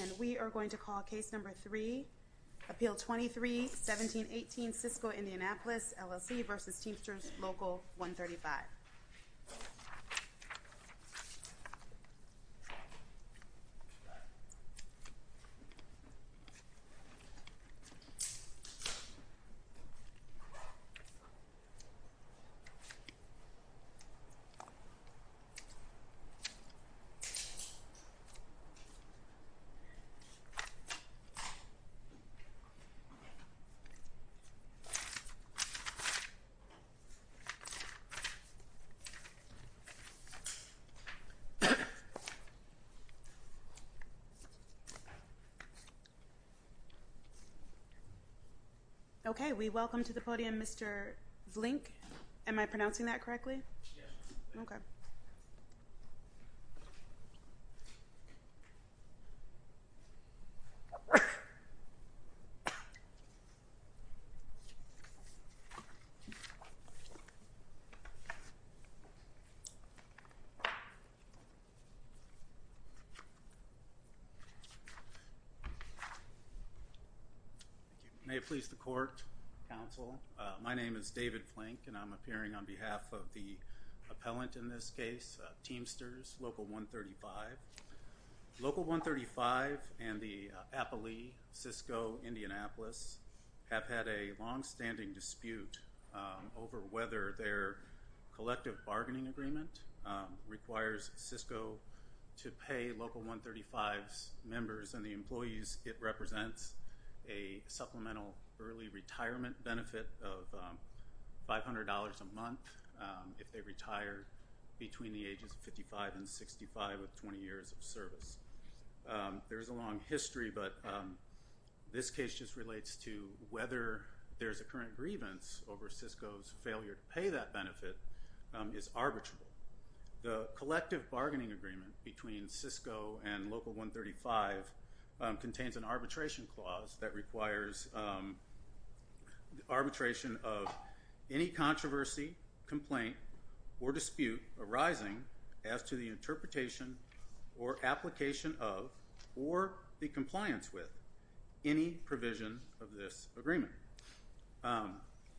And we are going to call case number three, Appeal 23-1718 Sysco Indianapolis LLC v. Teamsters Local 135. Okay, we welcome to the podium Mr. Vlynk. Am I pronouncing that correctly? May it please the court, counsel, my name is David Vlynk and I'm appearing on behalf of the appellant in this case, Teamsters Local 135. Local 135 and the Appalee Sysco Indianapolis have had a long-standing dispute over whether their collective bargaining agreement requires Sysco to pay Local 135's members and the employees it represents a supplemental early retirement benefit of $500 a month if they retire between the ages of 55 and 65 with 20 years of service. There's a long history, but this case just relates to whether there's a current grievance over Sysco's failure to pay that benefit is arbitrable. The collective bargaining agreement between Sysco and Local 135 contains an arbitration clause that requires arbitration of any controversy, complaint, or dispute arising as to the interpretation or application of or the compliance with any provision of this agreement.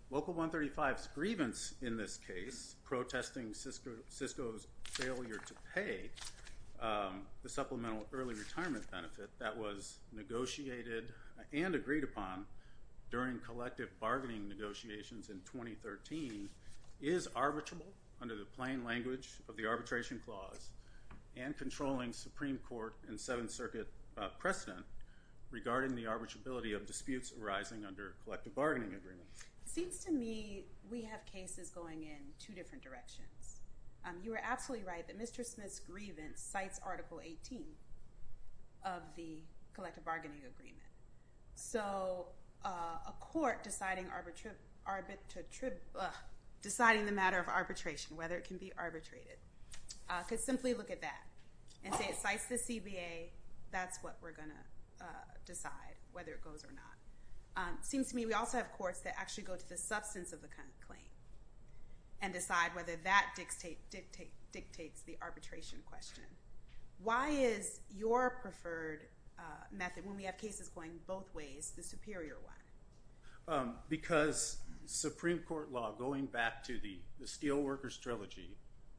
Local 135's grievance in this case protesting Sysco's failure to pay the supplemental early retirement benefit that was negotiated and agreed upon during collective bargaining negotiations in 2013 is arbitrable under the plain language of the arbitration clause and controlling Supreme Court and Seventh Circuit precedent regarding the arbitrability of disputes arising under collective bargaining agreements. It seems to me we have cases going in two different directions. You were absolutely right that Mr. Smith's grievance cites Article 18 of the collective bargaining agreement. So a court deciding the matter of arbitration, whether it can be arbitrated, could simply look at that and say it cites the CBA, that's what we're going to decide whether it goes to the courts or not. It seems to me we also have courts that actually go to the substance of the claim and decide whether that dictates the arbitration question. Why is your preferred method, when we have cases going both ways, the superior one? Because Supreme Court law, going back to the Steelworkers Trilogy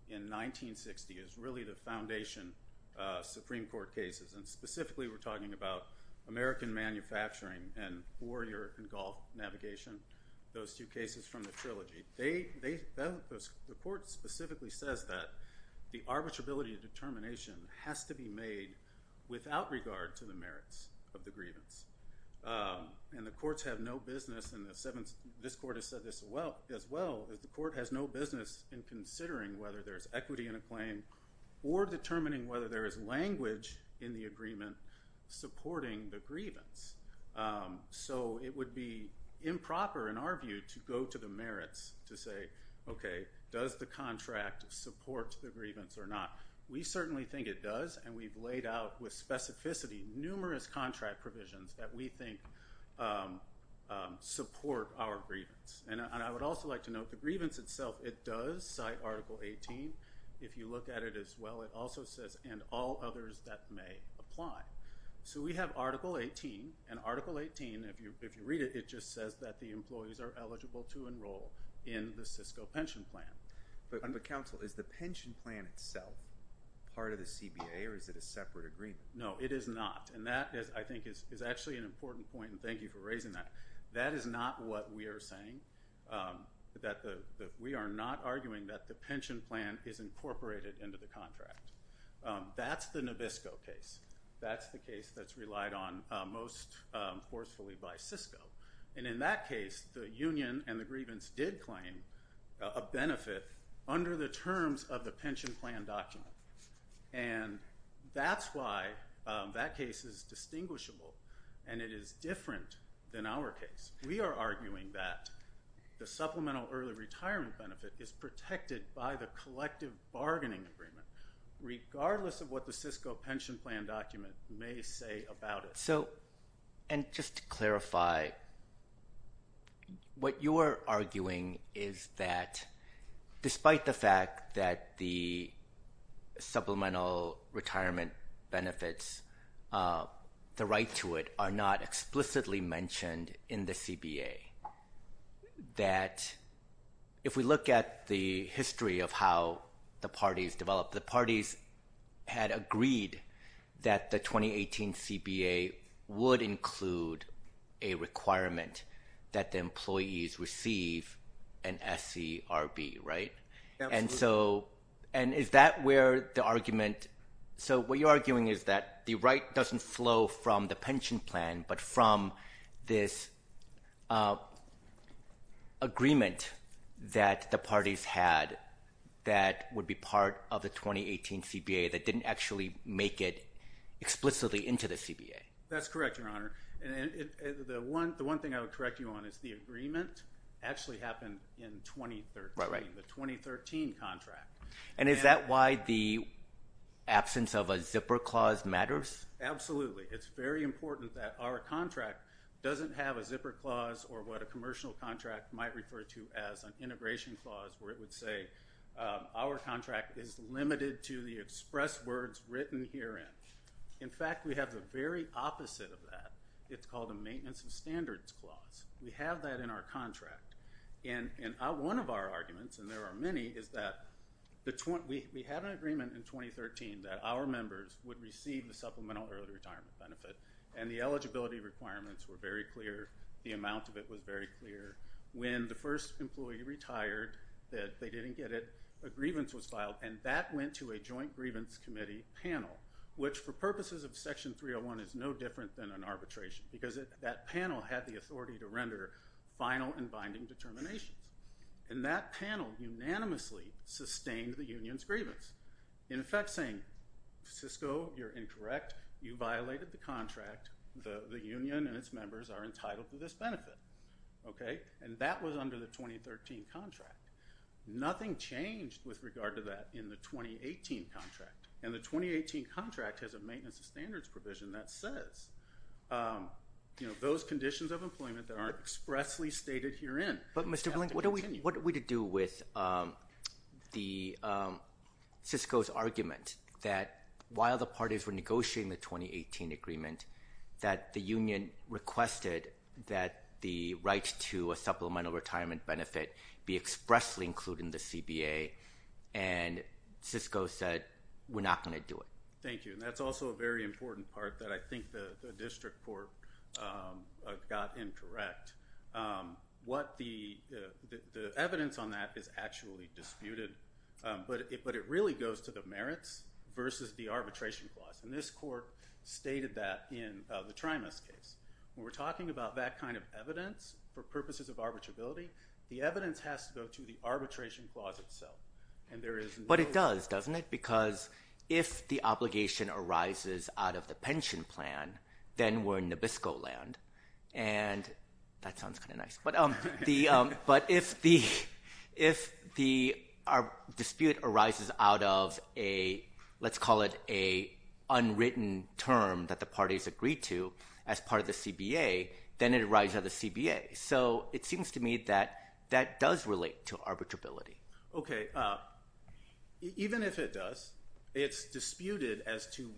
in 1960, is really the same, and Warrior and Golf Navigation, those two cases from the Trilogy. The court specifically says that the arbitrability of determination has to be made without regard to the merits of the grievance. And the courts have no business, and this court has said this as well, is the court has no business in considering whether there's equity in a claim or determining whether there is language in the agreement supporting the grievance. So it would be improper, in our view, to go to the merits to say, OK, does the contract support the grievance or not? We certainly think it does, and we've laid out with specificity numerous contract provisions that we think support our grievance. And I would also like to note the grievance itself, it does cite Article 18. If you look at it as well, it also says, and all others that may apply. So we have Article 18, and Article 18, if you read it, it just says that the employees are eligible to enroll in the Cisco pension plan. But counsel, is the pension plan itself part of the CBA, or is it a separate agreement? No, it is not. And that, I think, is actually an important point, and thank you for raising that. That is not what we are saying. We are not arguing that the pension plan is incorporated into the contract. That's the Nabisco case. That's the case that's relied on most forcefully by Cisco. And in that case, the union and the grievance did claim a benefit under the terms of the pension plan document. And that's why that case is distinguishable, and it is different than our case. We are arguing that the supplemental early retirement benefit is protected by the collective bargaining agreement, regardless of what the Cisco pension plan document may say about it. So, and just to clarify, what you are arguing is that despite the fact that the supplemental retirement benefits, the right to it are not explicitly mentioned in the CBA, that if we look at the history of how the parties developed, the parties had agreed that the 2018 CBA would include a requirement that the employees receive an SCRB, right? And so, and is that where the argument, so what you are arguing is that the right doesn't flow from the pension plan, but from this agreement that the parties had that would be part of the 2018 CBA that didn't actually make it explicitly into the CBA. That's correct, Your Honor. The one thing I would correct you on is the agreement actually happened in 2013, the 2013 contract. And is that why the absence of a zipper clause matters? Absolutely. It's very important that our contract doesn't have a zipper clause or what a commercial contract might refer to as an integration clause, where it would say our contract is limited to the express words written herein. In fact, we have the very opposite of that. It's called a maintenance of standards clause. We have that in our contract. And one of our arguments, and there are many, is that we had an agreement in 2013 that our members would receive the supplemental early retirement benefit, and the eligibility requirements were very clear, the amount of it was very clear. When the first employee retired, they didn't get it, a grievance was filed, and that went to a joint grievance committee panel, which for purposes of Section 301 is no different than an arbitration, because that panel had the authority to render final and binding determinations. And that panel unanimously sustained the union's grievance, in effect saying, Cisco, you're incorrect. You violated the contract. The union and its members are entitled to this benefit, okay? And that was under the 2013 contract. Nothing changed with regard to that in the 2018 contract. And the 2018 contract has a maintenance of standards provision that says, you know, those conditions of employment that aren't expressly stated herein. But Mr. Blank, what are we to do with the, Cisco's argument that while the parties were negotiating the 2018 agreement, that the union requested that the right to a supplemental retirement benefit be expressly included in the CBA, and Cisco said, we're not going to do it. Thank you. And that's also a very important part that I think the district court got incorrect. What the evidence on that is actually disputed, but it really goes to the merits versus the arbitration clause. And this court stated that in the Trimas case. When we're talking about that kind of evidence for purposes of arbitrability, the evidence has to go to the arbitration clause itself. And there is no- But it does, doesn't it? Because if the obligation arises out of the pension plan, then we're in Nabisco land. And that sounds kind of nice. But if our dispute arises out of a, let's call it a unwritten term that the parties agreed to as part of the CBA, then it arises out of the CBA. So it seems to me that that does relate to arbitrability. Okay. Even if it does, it's disputed as to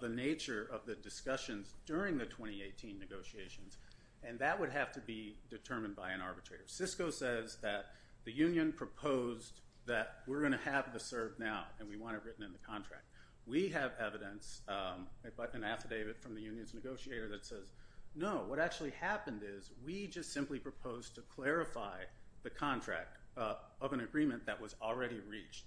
the nature of the discussions during the 2018 negotiations. And that would have to be determined by an arbitrator. Cisco says that the union proposed that we're going to have the CERB now, and we want it written in the contract. We have evidence, an affidavit from the union's negotiator that says, no, what actually happened is we just simply proposed to clarify the contract of an agreement that was already reached.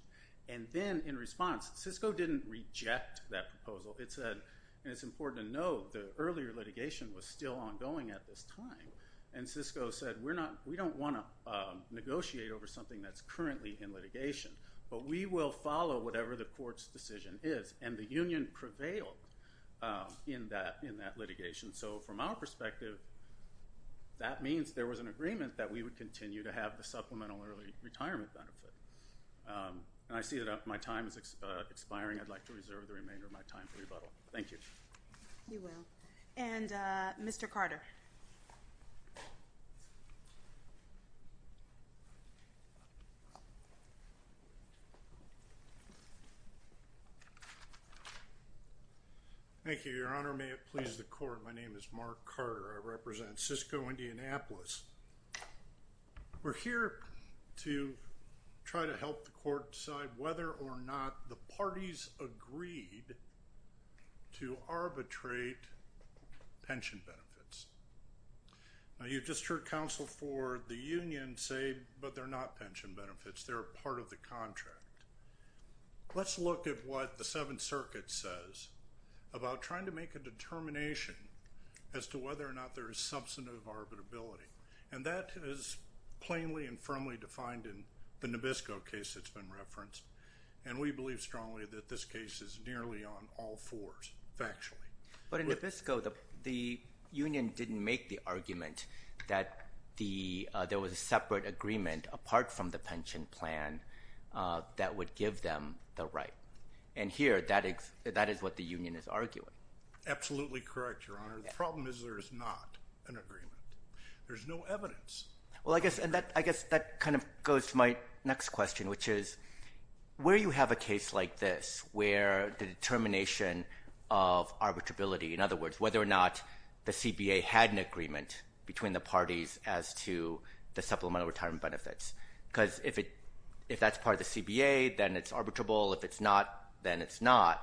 And then in response, Cisco didn't reject that proposal. It said, and it's important to note, the earlier litigation was still ongoing at this time. And Cisco said, we don't want to negotiate over something that's currently in litigation, but we will follow whatever the court's decision is. And the union prevailed in that litigation. So from our perspective, that means there was an agreement that we would continue to have the supplemental early retirement benefit. And I see that my time is expiring. I'd like to reserve the remainder of my time for rebuttal. Thank you. You will. And Mr. Carter. Thank you, Your Honor. May it please the court. My name is Mark Carter. I represent Cisco, Indianapolis. We're here to try to help the court decide whether or not the parties agreed to arbitrate pension benefits. Now, you've just heard counsel for the union say, but they're not pension benefits. They're part of the contract. Let's look at what the Seventh Circuit says about trying to make a determination as to whether or not there is substantive arbitrability. And that is plainly and firmly defined in the Nabisco case that's been referenced. And we believe strongly that this case is nearly on all fours, factually. But in Nabisco, the union didn't make the argument that there was a separate agreement apart from the pension plan that would give them the right. And here, that is what the union is arguing. Absolutely correct, Your Honor. The problem is there is not an agreement. There's no evidence. Well, I guess that kind of goes to my next question, which is, where you have a case like this where the determination of arbitrability, in other words, whether or not the CBA had an agreement between the parties as to the supplemental retirement benefits, because if that's part of the CBA, then it's arbitrable. If it's not, then it's not.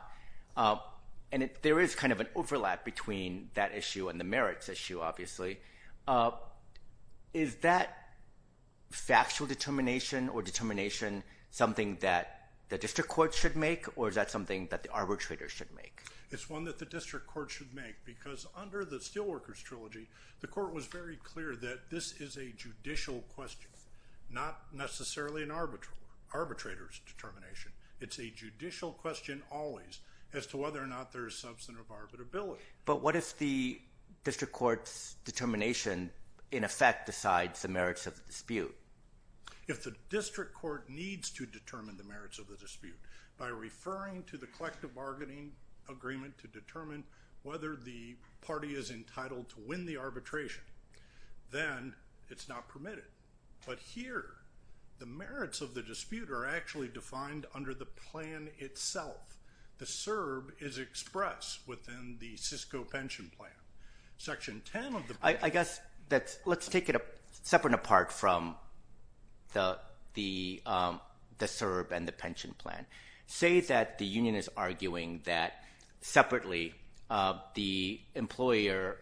And there is kind of an overlap between that issue and the merits issue, obviously. Is that factual determination or determination something that the district court should make, or is that something that the arbitrator should make? It's one that the district court should make, because under the Steelworkers Trilogy, the court was very clear that this is a judicial question, not necessarily an arbitrator's determination. It's a judicial question always as to whether or not there is substantive arbitrability. Okay. But what if the district court's determination, in effect, decides the merits of the dispute? If the district court needs to determine the merits of the dispute by referring to the collective bargaining agreement to determine whether the party is entitled to win the arbitration, then it's not permitted. But here, the merits of the dispute are actually defined under the plan itself. The CERB is expressed within the Cisco pension plan. Section 10 of the plan. I guess let's take it separate and apart from the CERB and the pension plan. Say that the union is arguing that, separately, the employer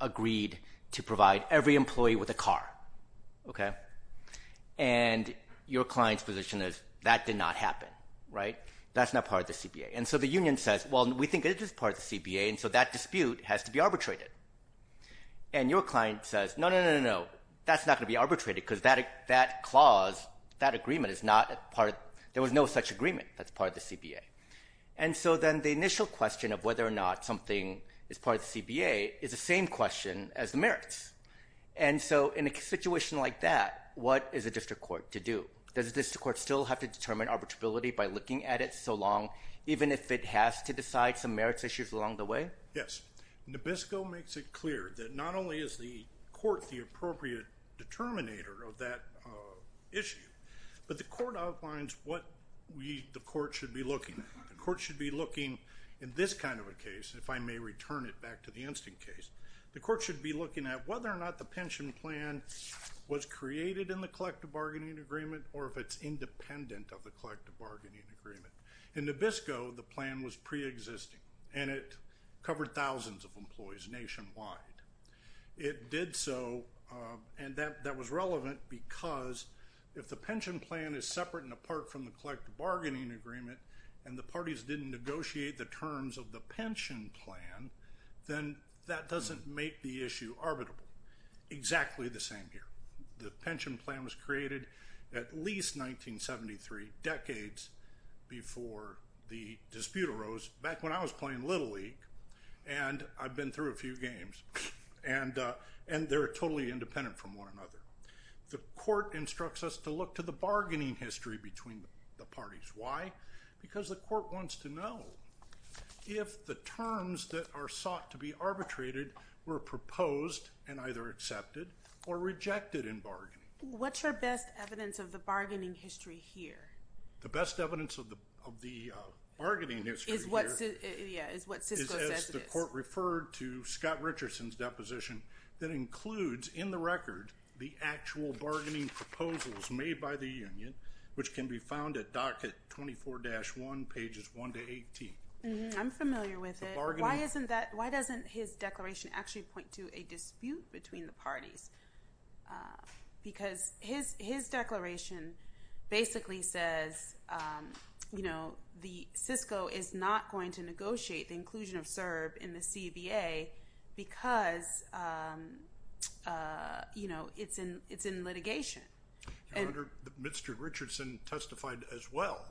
agreed to provide every employee with a car, okay? And your client's position is that did not happen, right? That's not part of the CBA. And so the union says, well, we think it is part of the CBA, and so that dispute has to be arbitrated. And your client says, no, no, no, no, no, that's not going to be arbitrated because that clause, that agreement is not part of the – there was no such agreement that's part of the CBA. And so then the initial question of whether or not something is part of the CBA is the same question as the merits. And so in a situation like that, what is a district court to do? Does a district court still have to determine arbitrability by looking at it so long, even if it has to decide some merits issues along the way? Yes. And the BISCO makes it clear that not only is the court the appropriate determinator of that issue, but the court outlines what the court should be looking at. The court should be looking, in this kind of a case, if I may return it back to the instant case, the court should be looking at whether or not the pension plan was created in the collective bargaining agreement or if it's independent of the collective bargaining agreement. In the BISCO, the plan was preexisting, and it covered thousands of employees nationwide. It did so, and that was relevant because if the pension plan is separate and apart from the collective bargaining agreement and the parties didn't negotiate the terms of the pension plan, then that doesn't make the issue arbitrable. Exactly the same here. The pension plan was created at least 1973, decades before the dispute arose, back when I was playing Little League, and I've been through a few games, and they're totally independent from one another. The court instructs us to look to the bargaining history between the parties. Why? Because the court wants to know if the terms that are sought to be arbitrated were proposed and either accepted or rejected in bargaining. What's your best evidence of the bargaining history here? The best evidence of the bargaining history here is as the court referred to Scott Richardson's deposition that includes in the record the actual bargaining proposals made by the union, which can be found at docket 24-1, pages 1 to 18. I'm familiar with it. Why doesn't his declaration actually point to a dispute between the parties? Because his declaration basically says, you know, the CISCO is not going to negotiate the inclusion of CERB in the CBA because, you know, it's in litigation. Mr. Richardson testified as well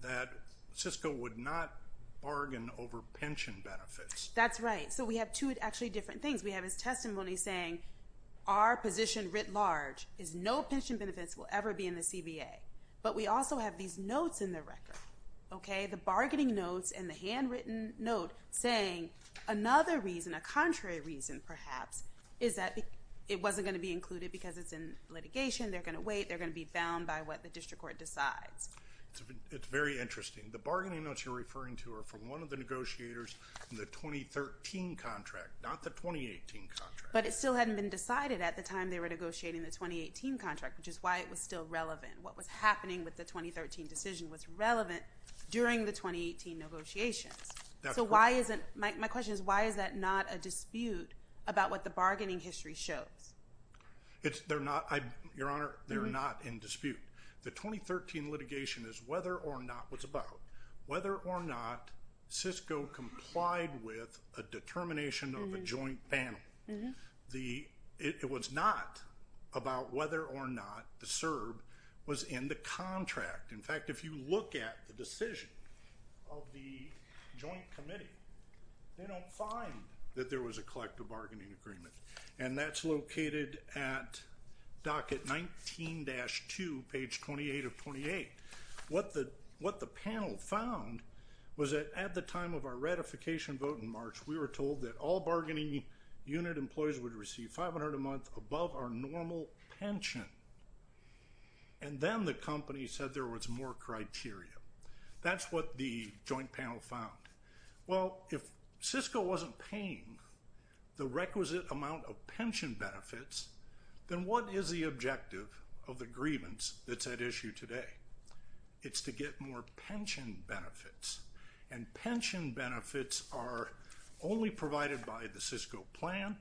that CISCO would not bargain over pension benefits. That's right. So we have two actually different things. We have his testimony saying our position writ large is no pension benefits will ever be in the CBA, but we also have these notes in the record, okay? The bargaining notes and the handwritten note saying another reason, a contrary reason perhaps, is that it wasn't going to be included because it's in litigation. They're going to wait. They're going to be bound by what the district court decides. It's very interesting. The bargaining notes you're referring to are from one of the negotiators in the 2013 contract, not the 2018 contract. But it still hadn't been decided at the time they were negotiating the 2018 contract, which is why it was still relevant. What was happening with the 2013 decision was relevant during the 2018 negotiations. So why isn't my question is why is that not a dispute about what the bargaining history shows? They're not, Your Honor, they're not in dispute. The 2013 litigation is whether or not what's about. Whether or not CISCO complied with a determination of a joint panel. It was not about whether or not the CERB was in the contract. In fact, if you look at the decision of the joint committee, they don't find that there was a collective bargaining agreement, and that's located at docket 19-2, page 28 of 28. What the panel found was that at the time of our ratification vote in March, we were told that all bargaining unit employees would receive $500 a month above our normal pension. And then the company said there was more criteria. That's what the joint panel found. Well, if CISCO wasn't paying the requisite amount of pension benefits, then what is the objective of the grievance that's at issue today? It's to get more pension benefits. And pension benefits are only provided by the CISCO plan,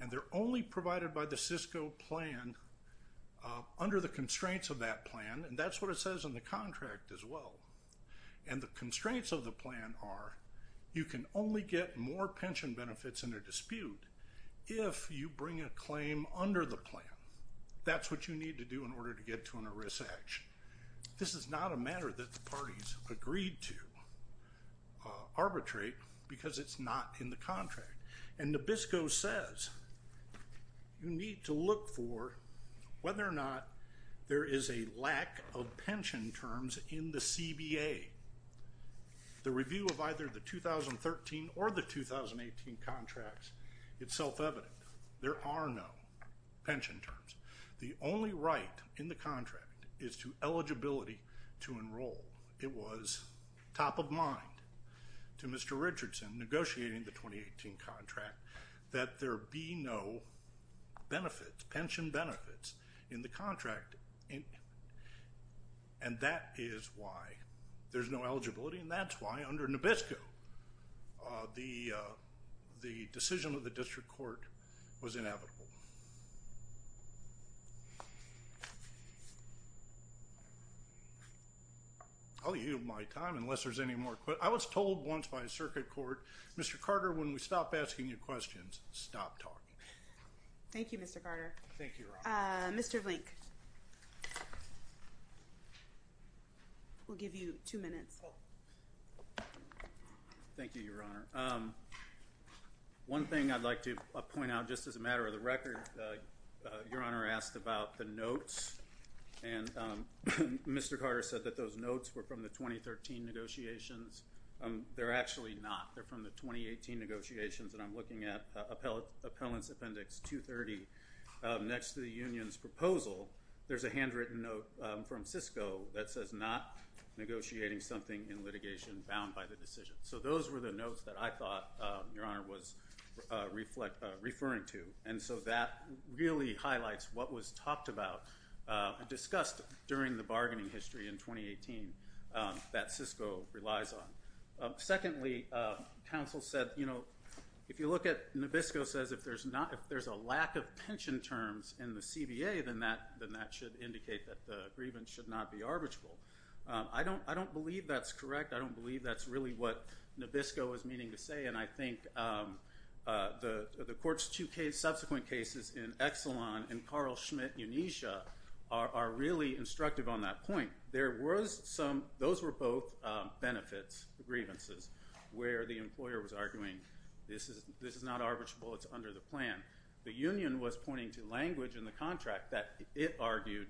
and they're only provided by the CISCO plan under the constraints of that plan, and that's what it says in the contract as well. And the constraints of the plan are you can only get more pension benefits in a dispute if you bring a claim under the plan. That's what you need to do in order to get to an arrest action. This is not a matter that the parties agreed to arbitrate because it's not in the contract. And NABISCO says you need to look for whether or not there is a lack of pension terms in the CBA. The review of either the 2013 or the 2018 contracts, it's self-evident. There are no pension terms. The only right in the contract is to eligibility to enroll. It was top of mind to Mr. Richardson, negotiating the 2018 contract, that there be no benefits, pension benefits in the contract, and that is why there's no eligibility, and that's why under NABISCO the decision of the district court was inevitable. I'll yield my time unless there's any more questions. I was told once by a circuit court, Mr. Carter, when we stop asking you questions, stop talking. Thank you, Mr. Carter. Thank you, Your Honor. Mr. Blink, we'll give you two minutes. Thank you, Your Honor. One thing I'd like to point out, just as a matter of the record, Your Honor asked about the notes, and Mr. Carter said that those notes were from the 2013 negotiations. They're actually not. They're from the 2018 negotiations, and I'm looking at Appellant's Appendix 230 next to the union's proposal. There's a handwritten note from Cisco that says not negotiating something in litigation bound by the decision. So those were the notes that I thought Your Honor was referring to, and so that really highlights what was talked about and discussed during the bargaining history in 2018 that Cisco relies on. Secondly, counsel said, you know, if you look at NABISCO says if there's a lack of pension terms in the CBA, then that should indicate that the grievance should not be arbitrable. I don't believe that's correct. I don't believe that's really what NABISCO is meaning to say, and I think the court's two subsequent cases in Exelon and Carl Schmitt Unesha are really instructive on that point. Those were both benefits, grievances, where the employer was arguing this is not arbitrable. It's under the plan. The union was pointing to language in the contract that it argued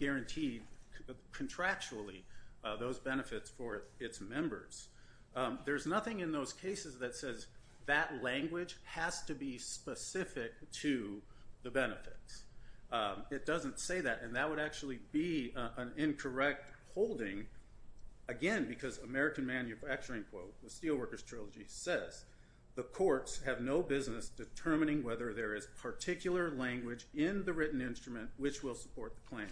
guaranteed contractually those benefits for its members. There's nothing in those cases that says that language has to be specific to the benefits. It doesn't say that, and that would actually be an incorrect holding, again, because American Manufacturing Quote, the Steelworkers Trilogy says, the courts have no business determining whether there is particular language in the written instrument which will support the claim.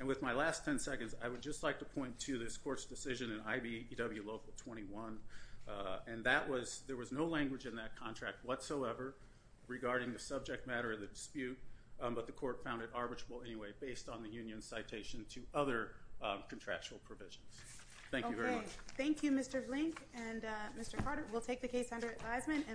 And with my last 10 seconds, I would just like to point to this court's decision in IBEW Local 21, and that was there was no language in that contract whatsoever regarding the subject matter of the dispute, but the court found it arbitrable anyway based on the union's citation to other contractual provisions. Thank you very much. Okay. Thank you, Mr. Blink and Mr. Carter. We'll take the case under advisement.